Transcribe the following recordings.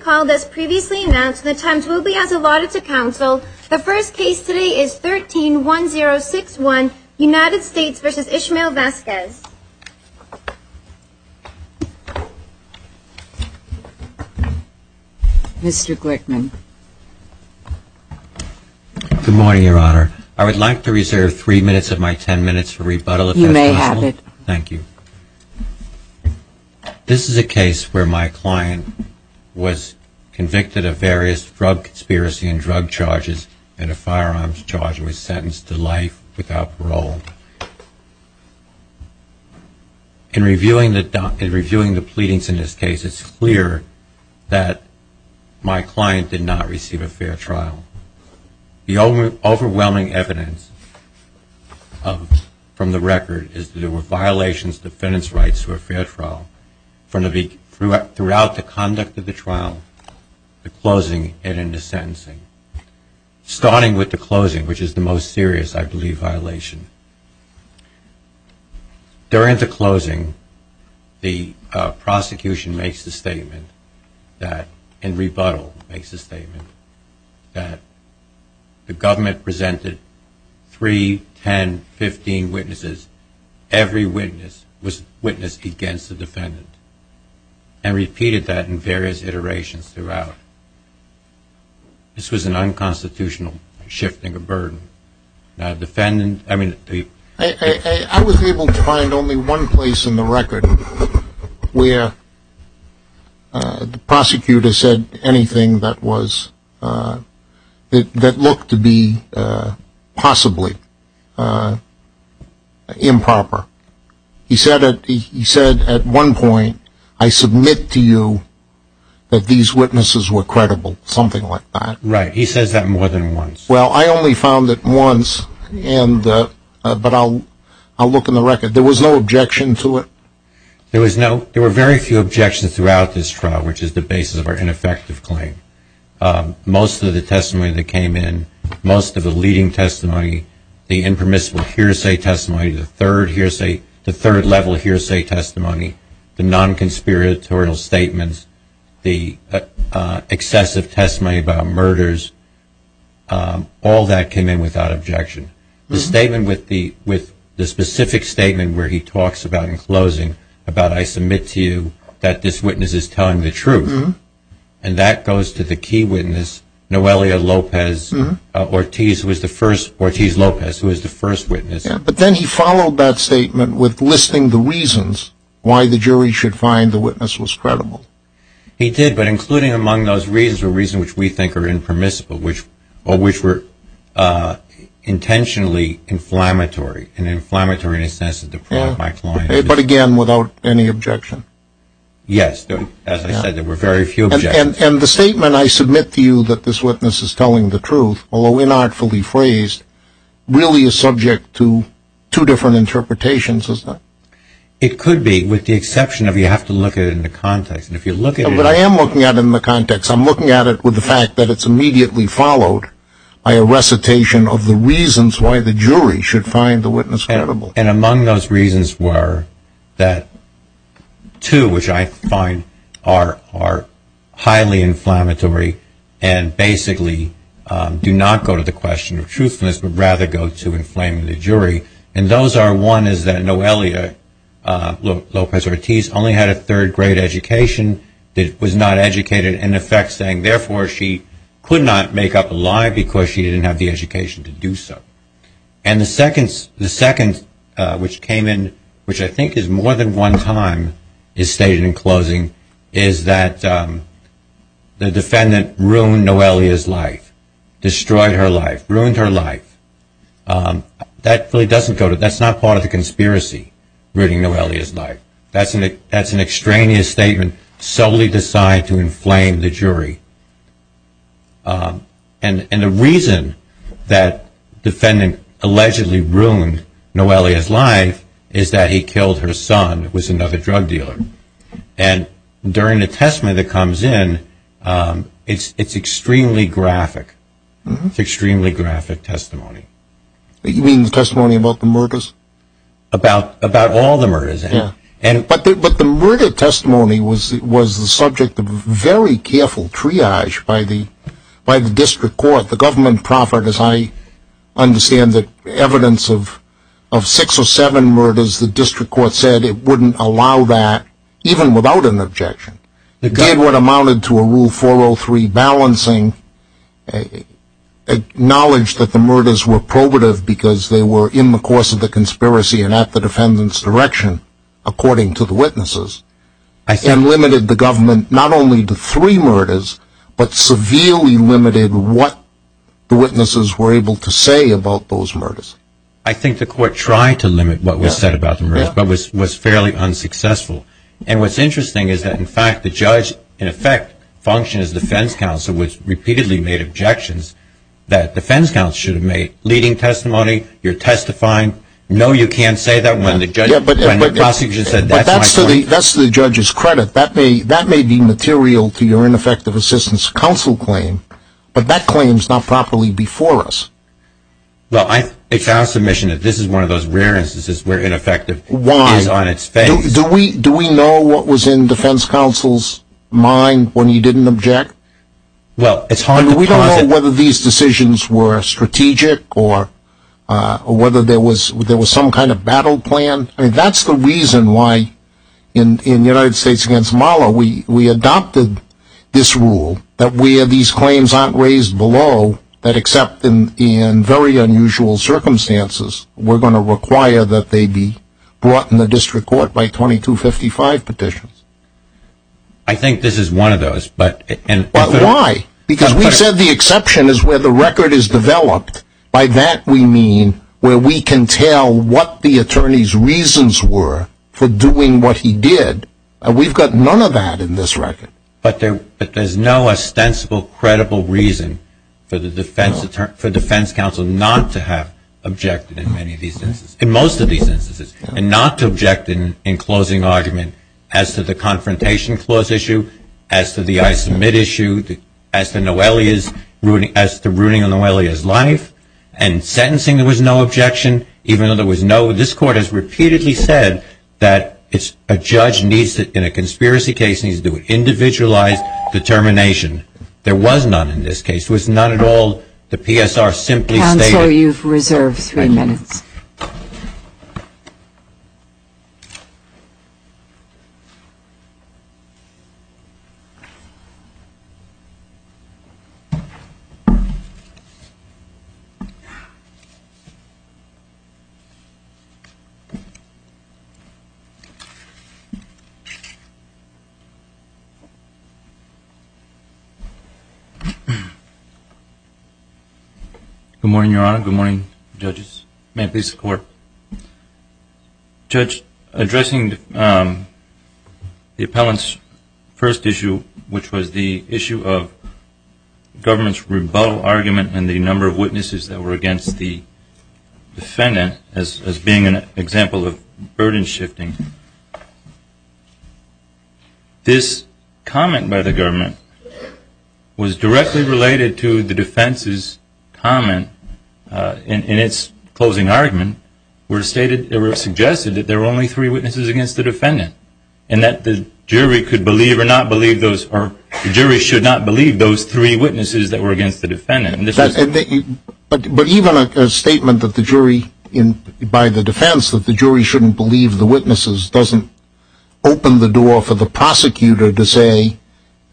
called us previously announced the times will be as allotted to counsel the first case today is 13 1 0 6 1 United States v. Ishmael Vazquez mr. Glickman good morning your honor I would like to reserve three minutes of my ten minutes for rebuttal if you may have it thank you this is a case where my client was convicted of various drug conspiracy and drug charges and a firearms charge was sentenced to life without parole in reviewing the dock in reviewing the pleadings in this case it's clear that my client did not receive a fair trial the only overwhelming evidence from the record is there were violations defendants rights to a fair trial from the week throughout the conduct of the trial the closing and in the sentencing starting with the closing which is the most serious I believe violation during the closing the prosecution makes the statement that in rebuttal makes the statement that the government presented 3 10 15 witnesses every witness was and repeated that in various iterations throughout this was an unconstitutional shifting a burden defendant I mean I was able to find only one place in the record where the prosecutor said anything that was that looked to be that these witnesses were credible something like that right he says that more than once well I only found that once and but I'll I'll look in the record there was no objection to it there was no there were very few objections throughout this trial which is the basis of our ineffective claim most of the testimony that came in most of the leading testimony the impermissible hearsay testimony the third hearsay the third level hearsay testimony the non-conspiratorial statements the excessive testimony about murders all that came in without objection the statement with the with the specific statement where he talks about in closing about I submit to you that this witness is telling the truth and that goes to the key witness Noelia Lopez Ortiz was the first Ortiz Lopez who is the first witness but then he followed that statement with listing the reasons why the jury should find the witness was credible he did but including among those reasons a reason which we think are impermissible which or which were intentionally inflammatory and inflammatory in a sense of the fact my client but again without any objection yes there were very few and the statement I submit to you that this witness is telling the truth although we're not fully phrased really is subject to two different interpretations is that it could be with the exception of you have to look at it in the context and if you look at what I am looking at in the context I'm looking at it with the fact that it's immediately followed by a recitation of the reasons why the jury should find the witness credible and among those reasons were that to which I find are are highly inflammatory and basically do not go to the question of truthfulness but rather go to inflame the jury and those are one is that Noelia Lopez Ortiz only had a third grade education that was not educated in effect saying therefore she could not make up a lie because she didn't have the education to do so and the second the second which came in which I think is more than one time is stated in closing is that the defendant ruined Noelia's life destroyed her life ruined her life that really doesn't go to that's not part of the conspiracy ruining Noelia's life that's an extraneous statement solely decide to inflame the jury and the reason that defendant allegedly ruined Noelia's life is that he killed her son who was another drug dealer and during the you mean the testimony about the murders about about all the murders yeah and but but the murder testimony was it was the subject of very careful triage by the by the district court the government proffered as I understand that evidence of of six or seven murders the district court said it wouldn't allow that even without an objection again what amounted to a rule 403 balancing a knowledge that the murders were probative because they were in the course of the conspiracy and at the defendant's direction according to the witnesses I said limited the government not only to three murders but severely limited what the witnesses were able to say about those murders I think the court tried to limit what was said about the murder but was was fairly unsuccessful and what's interesting is that in fact the judge in effect function as defense counsel which should have made leading testimony you're testifying no you can't say that when the judge said that's the best the judge's credit that me that may be material to your ineffective assistance counsel claim but that claims not properly before us well I found submission that this is one of those rare instances where ineffective why is on its face do we do we know what was in defense counsel's mind when you didn't object well it's hard we don't know whether these decisions were strategic or whether there was there was some kind of battle plan and that's the reason why in in the United States against Mahler we we adopted this rule that we have these claims aren't raised below that except in in very unusual circumstances we're going to require that they be brought in the district court by 2255 petition I think this is one of those but and why because we said the exception is where the record is developed by that we mean where we can tell what the attorneys reasons were for doing what he did and we've got none of that in this record but there but there's no ostensible credible reason for the defense attorney for defense counsel not to have objected in many of these instances in most of these instances and not to object in in closing argument as to the confrontation clause issue as to the I submit issue as to Noel is ruining as to ruining Noel is life and sentencing there was no objection even though there was no this court has repeatedly said that it's a judge needs to in a conspiracy case needs to individualized determination there was none in this case was not at all the PSR you've reserved three minutes addressing the appellant's first issue which was the issue of government's rebuttal argument and the number of witnesses that were against the defendant as being an example of burden shifting this comment by the government was directly related to the defense's comment in its closing argument were stated there were suggested that there were only three witnesses against the defendant and that the jury could believe or not believe those are the jury should not believe those three witnesses that were against the defendant but even a statement that the jury in by the defense that the jury shouldn't believe the witnesses doesn't open the door for the prosecutor to say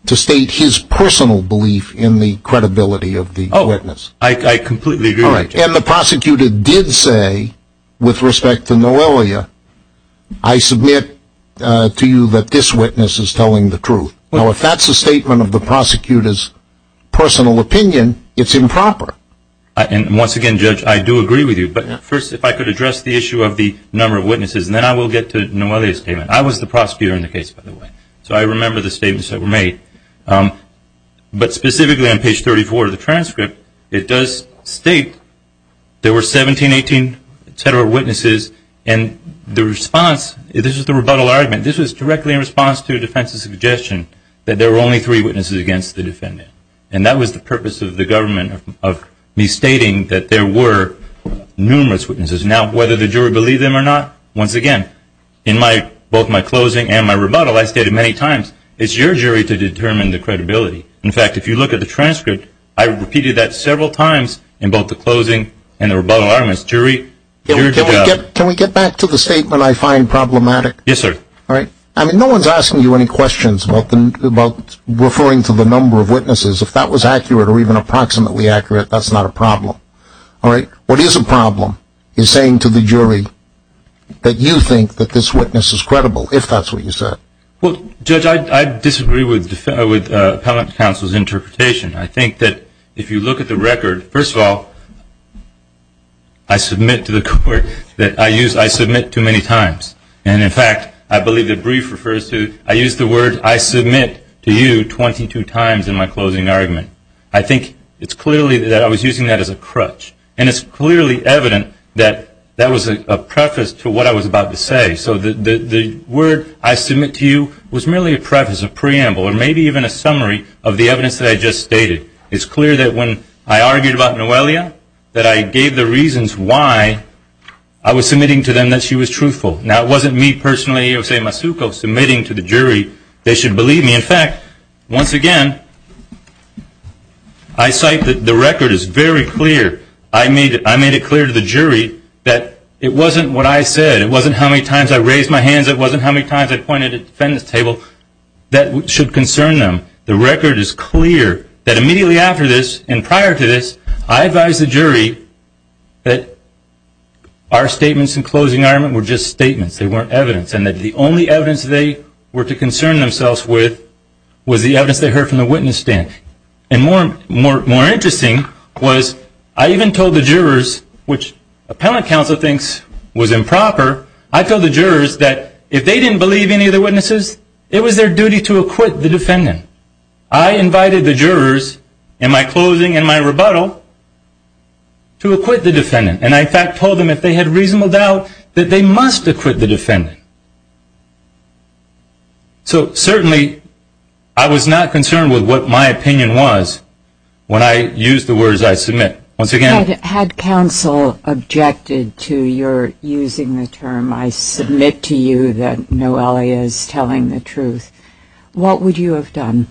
to state his personal belief in the credibility of the witness I completely do right and the prosecutor did say with respect to know earlier I submit to you that this witness is telling the truth well if that's a statement of the prosecutor's personal opinion it's improper and once again judge I do agree with you but first if I could address the issue of the number of witnesses and then I will get to know other statement I was the prosecutor in the case so I remember the statements that were made but specifically on page 34 of the transcript it does state there were 1718 witnesses and the response this is the rebuttal argument this is directly in response to defense's suggestion that there were only three witnesses against the defendant and that was the purpose of the government of me stating that there were numerous witnesses now whether the jury believe them or not once again in my both my closing and my times it's your jury to determine the credibility in fact if you look at the transcript I repeated that several times in both the closing and the rebuttal armistice jury can we get back to the statement I find problematic yes sir all right I mean no one's asking you any questions about them about referring to the number of witnesses if that was accurate or even approximately accurate that's not a problem all right what is a problem is saying to the jury that you think that this witness is credible if that's what you said well judge I disagree with the fellow with appellate counsel's interpretation I think that if you look at the record first of all I submit to the court that I use I submit too many times and in fact I believe the brief refers to I use the word I submit to you 22 times in my closing argument I think it's clearly that I was using that as a crutch and it's clearly evident that that was a preface to what I was about to say so the word I submit to you was merely a preface a preamble or maybe even a summary of the evidence that I just stated it's clear that when I argued about Noelia that I gave the reasons why I was submitting to them that she was truthful now it wasn't me personally Jose Masuko submitting to the jury they should believe me in fact once again I cite that the record is very clear I made it I made it clear to the jury that it wasn't what I said it wasn't how many times I raised my hands it wasn't how many times I pointed at the defendants table that should concern them the record is clear that immediately after this and prior to this I advised the jury that our statements in closing argument were just statements they weren't evidence and that the only evidence they were to concern themselves with was the evidence they heard from the witness stand and more more more interesting was I even told the jurors which appellant counsel thinks was improper I told the jurors that if they didn't believe any of the witnesses it was their duty to acquit the defendant I invited the jurors in my closing and my rebuttal to acquit the defendant and I in fact told them if they had reasonable doubt that they must acquit the defendant so certainly I was not concerned with what my opinion was when I used the words I submit once again had counsel objected to your using the term I submit to you that Noelia is telling the truth what would you have done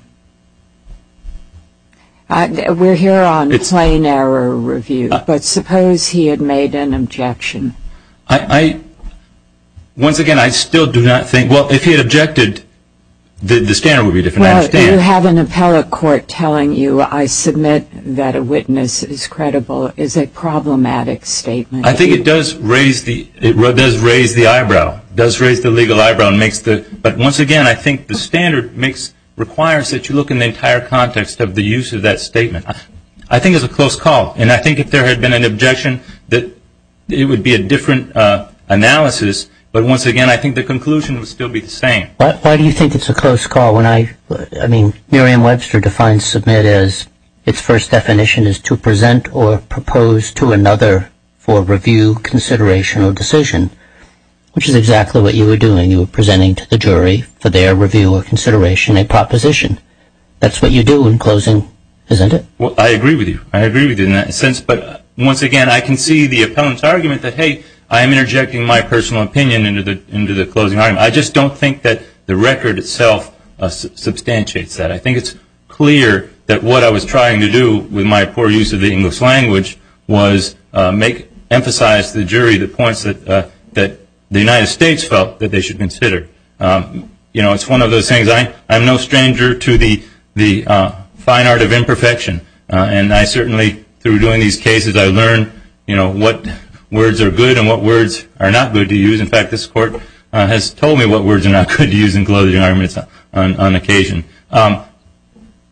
we're here on it's a narrow review but suppose he had made an objection I once again I still do not think well if he had objected the standard would be different I have an appellate court telling you I submit that a witness is credible is a problematic statement I think it does raise the it does raise the eyebrow does raise the legal eyebrow and makes the but once again I think the standard makes requires that you look in the entire context of the use of that statement I think it's a close call and I think if there had been an objection that it would be a different analysis but once again I think the conclusion would still be the same but why do you think it's a close call when I I mean Miriam Webster defines submit as its first definition is to present or propose to another for review consideration or decision which is exactly what you were doing you were presenting to the jury for their review or consideration a proposition that's what you do in closing isn't it well I agree with you I agree with you in that sense but once again I can see the opponent's argument that hey I am interjecting my personal opinion into the into the closing I just don't think that the record itself substantiates that I think it's clear that what I was trying to do with my poor use of the English language was make emphasize the jury the points that that the United States felt that they should consider you know it's one of those things I I'm no stranger to the the fine art of imperfection and I certainly through doing these cases I learned you know what words are good and what words are not good to use in fact this court has told me what words are not good to use in closing arguments on occasion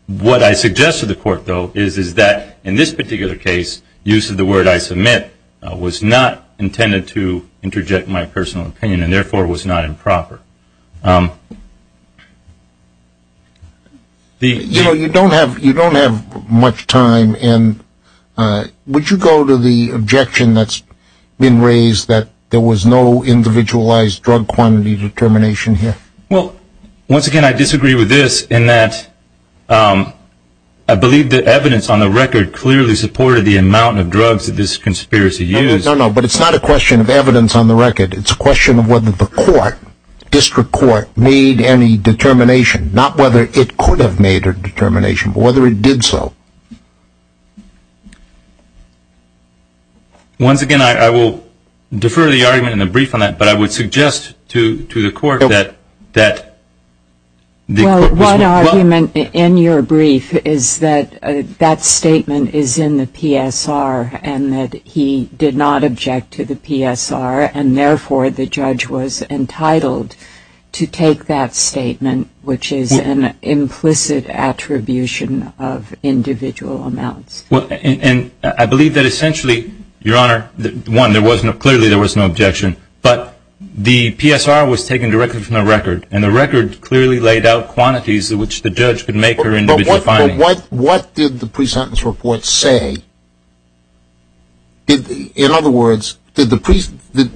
what I suggest to the court though is is that in this particular case use of the word I submit was not intended to interject my personal opinion and therefore was not improper the you know you don't have you don't have much time and would you go to the objection that's been raised that there was no individualized drug quantity determination here well once again I disagree with this in that I believe the evidence on the record clearly supported the amount of drugs that this conspiracy use no no but it's not a question of evidence on the record it's a question of whether the court district court made any determination not whether it could have made a determination whether it did so once again I will defer the argument in the brief on that but I would suggest to to the court that that one argument in your brief is that that statement is in the PSR and that he did not object to the PSR and therefore the judge was entitled to take that statement which is an implicit attribution of individual amounts well and I believe that essentially your honor that one there wasn't a clearly there was no objection but the PSR was taken directly from the record and the record clearly laid out quantities in which the judge could make her in what what what what did the pre-sentence report say did the in other words did the priest that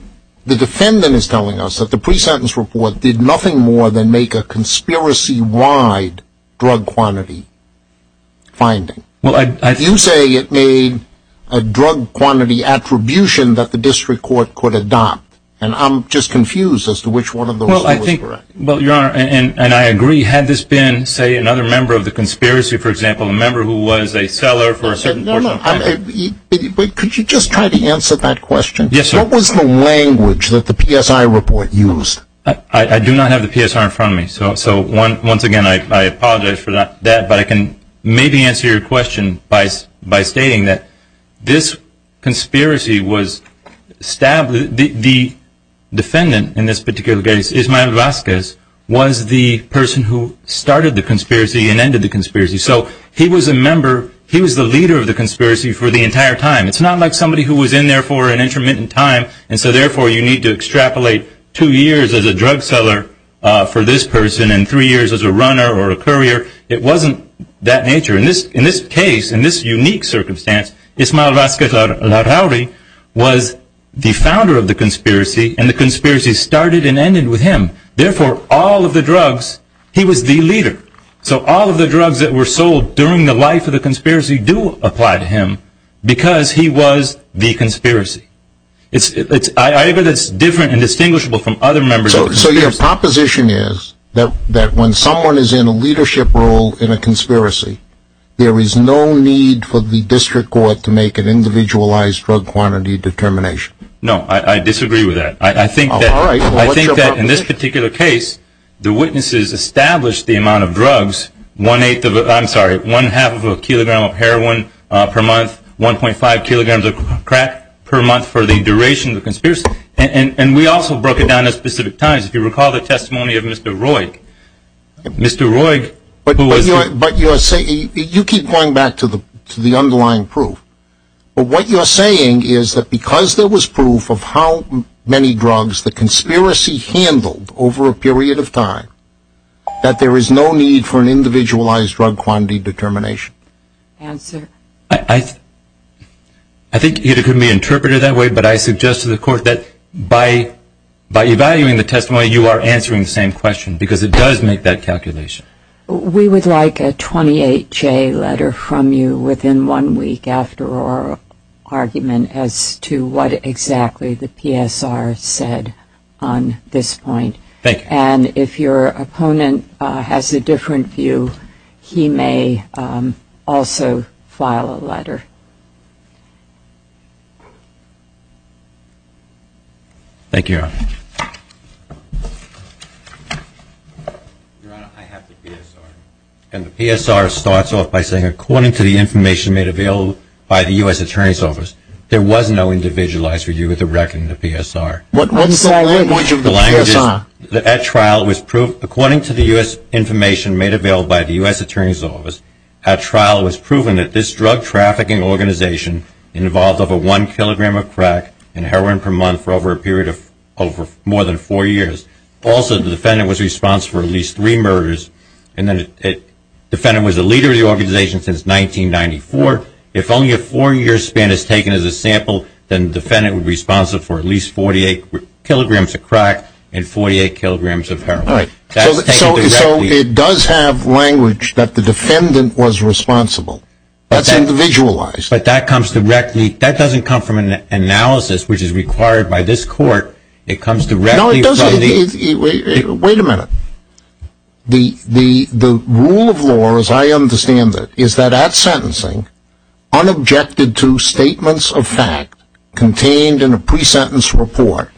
the defendant is telling us that the pre-sentence report did nothing more than make a conspiracy-wide drug quantity finding well I do say it made a drug quantity attribution that the district court could adopt and I'm just confused as to which one of the well I think well your honor and and I agree had this been say another member of the conspiracy for example a member who was a seller for a certain but could you just try to answer that question yes what was the language that the PSI report used I do not have the PSR in front of me so so one once again I apologize for that that but I can maybe answer your question by by stating that this conspiracy was stabbed the defendant in this particular case is man Vasquez was the person who started the conspiracy and ended the conspiracy so he was a member he was the leader of the conspiracy for the entire time it's not like somebody who was in there for an intermittent time and so therefore you need to extrapolate two years as a drug seller for this person and three years as a runner or a courier it wasn't that nature in this in this case in this unique circumstance it's my Vasquez out howdy was the founder of the conspiracy and the conspiracy started and ended with him therefore all of the drugs he was the leader so all of the drugs that were sold during the life of him because he was the conspiracy it's it's either that's different and distinguishable from other members of so your proposition is that that when someone is in a leadership role in a conspiracy there is no need for the district court to make an individualized drug quantity determination no I disagree with that I think all right I think that in this particular case the witnesses established the amount of drugs one eighth of it I'm sorry one half of a kilogram of heroin per month 1.5 kilograms of crack per month for the duration of the conspiracy and and we also broke it down at specific times if you recall the testimony of mr. Roy mr. Roy but but you're saying you keep going back to the to the underlying proof but what you're saying is that because there was proof of how many drugs the conspiracy handled over a period of time that there is no need for an individualized drug quantity determination answer I I think it could be interpreted that way but I suggest to the court that by by evaluating the testimony you are answering the same question because it does make that calculation we would like a 28 J letter from you within one week after our argument as to what exactly the PSR said on this point thank and if your opponent has a different view he may also file a letter thank you and the PSR starts off by saying according to the information made available by the US Attorney's Office there was no individualized for you with the wrecking the PSR what was that trial was proved according to the US information made available by the US Attorney's Office a trial was proven at this drug trafficking organization involved over one kilogram of crack and heroin per month for over a period of over more than four years also the defendant was responsible for at least three murders and then it defendant was a leader of the organization since 1994 if only a four-year span is taken as a for at least 48 kilograms of crack and 48 kilograms of heroin so it does have language that the defendant was responsible that's individualized but that comes directly that doesn't come from an analysis which is required by this court it comes directly wait a minute the the the rule of law as I understand it is that at sentencing unobjected to statements of fact contained in a pre-sentence report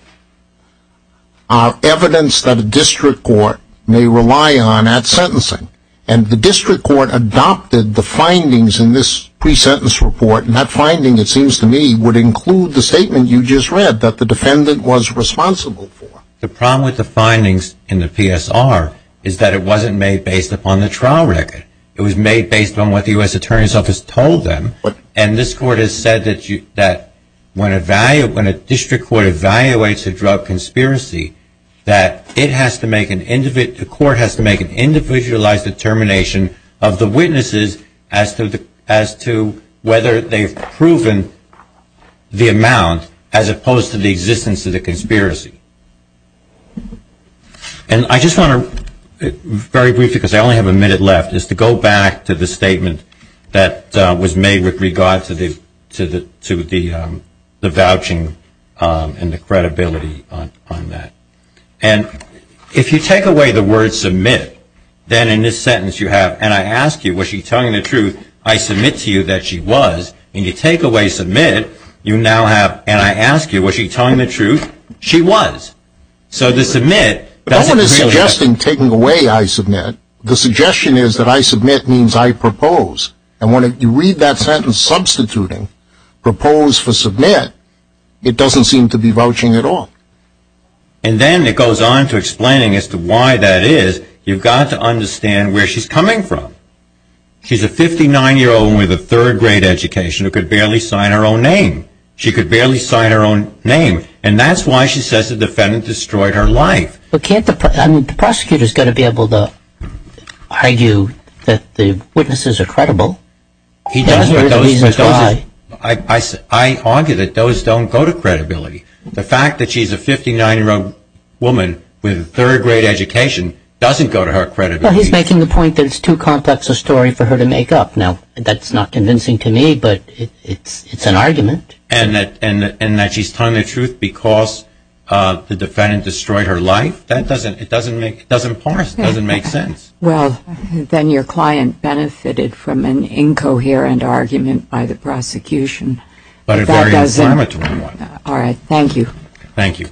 are evidence that a district court may rely on at sentencing and the district court adopted the findings in this pre-sentence report and that finding it seems to me would include the statement you just read that the defendant was responsible for the problem with the findings in the PSR is that it wasn't made based upon the trial record it was made based on what the U.S. Attorney's Office told them and this court has said that you that when a value when a district court evaluates a drug conspiracy that it has to make an end of it the court has to make an individualized determination of the witnesses as to the as to whether they've proven the amount as opposed to the existence of the conspiracy and I just want to very briefly because I only have a minute left is to go back to the statement that was made with regard to the to the to the the vouching and the credibility on on that and if you take away the word submit then in this sentence you have and I ask you what she's telling the truth I submit to you that she was and you take away submit you now have and I ask you what she telling the truth she was so the submit suggesting taking away I submit the suggestion is that I submit means I propose and when you read that sentence substituting propose for submit it doesn't seem to be vouching at all and then it goes on to explaining as to why that is you've got to understand where she's coming from she's a 59 year old with a third-grade education who could barely sign her own name she could barely sign her own name and that's why she says the defendant destroyed her life but can't the prosecutor is going to be able to argue that the witnesses are credible I argue that those don't go to credibility the fact that she's a 59 year old woman with third-grade education doesn't go to her credit he's making the point that it's too complex a story for her to make up now that's not convincing to me but it's it's an argument and that and that she's telling the truth because the defendant destroyed her life that doesn't it doesn't make it doesn't parse it doesn't make sense well then your client benefited from an incoherent argument by the prosecution but it doesn't matter to me all right thank you thank you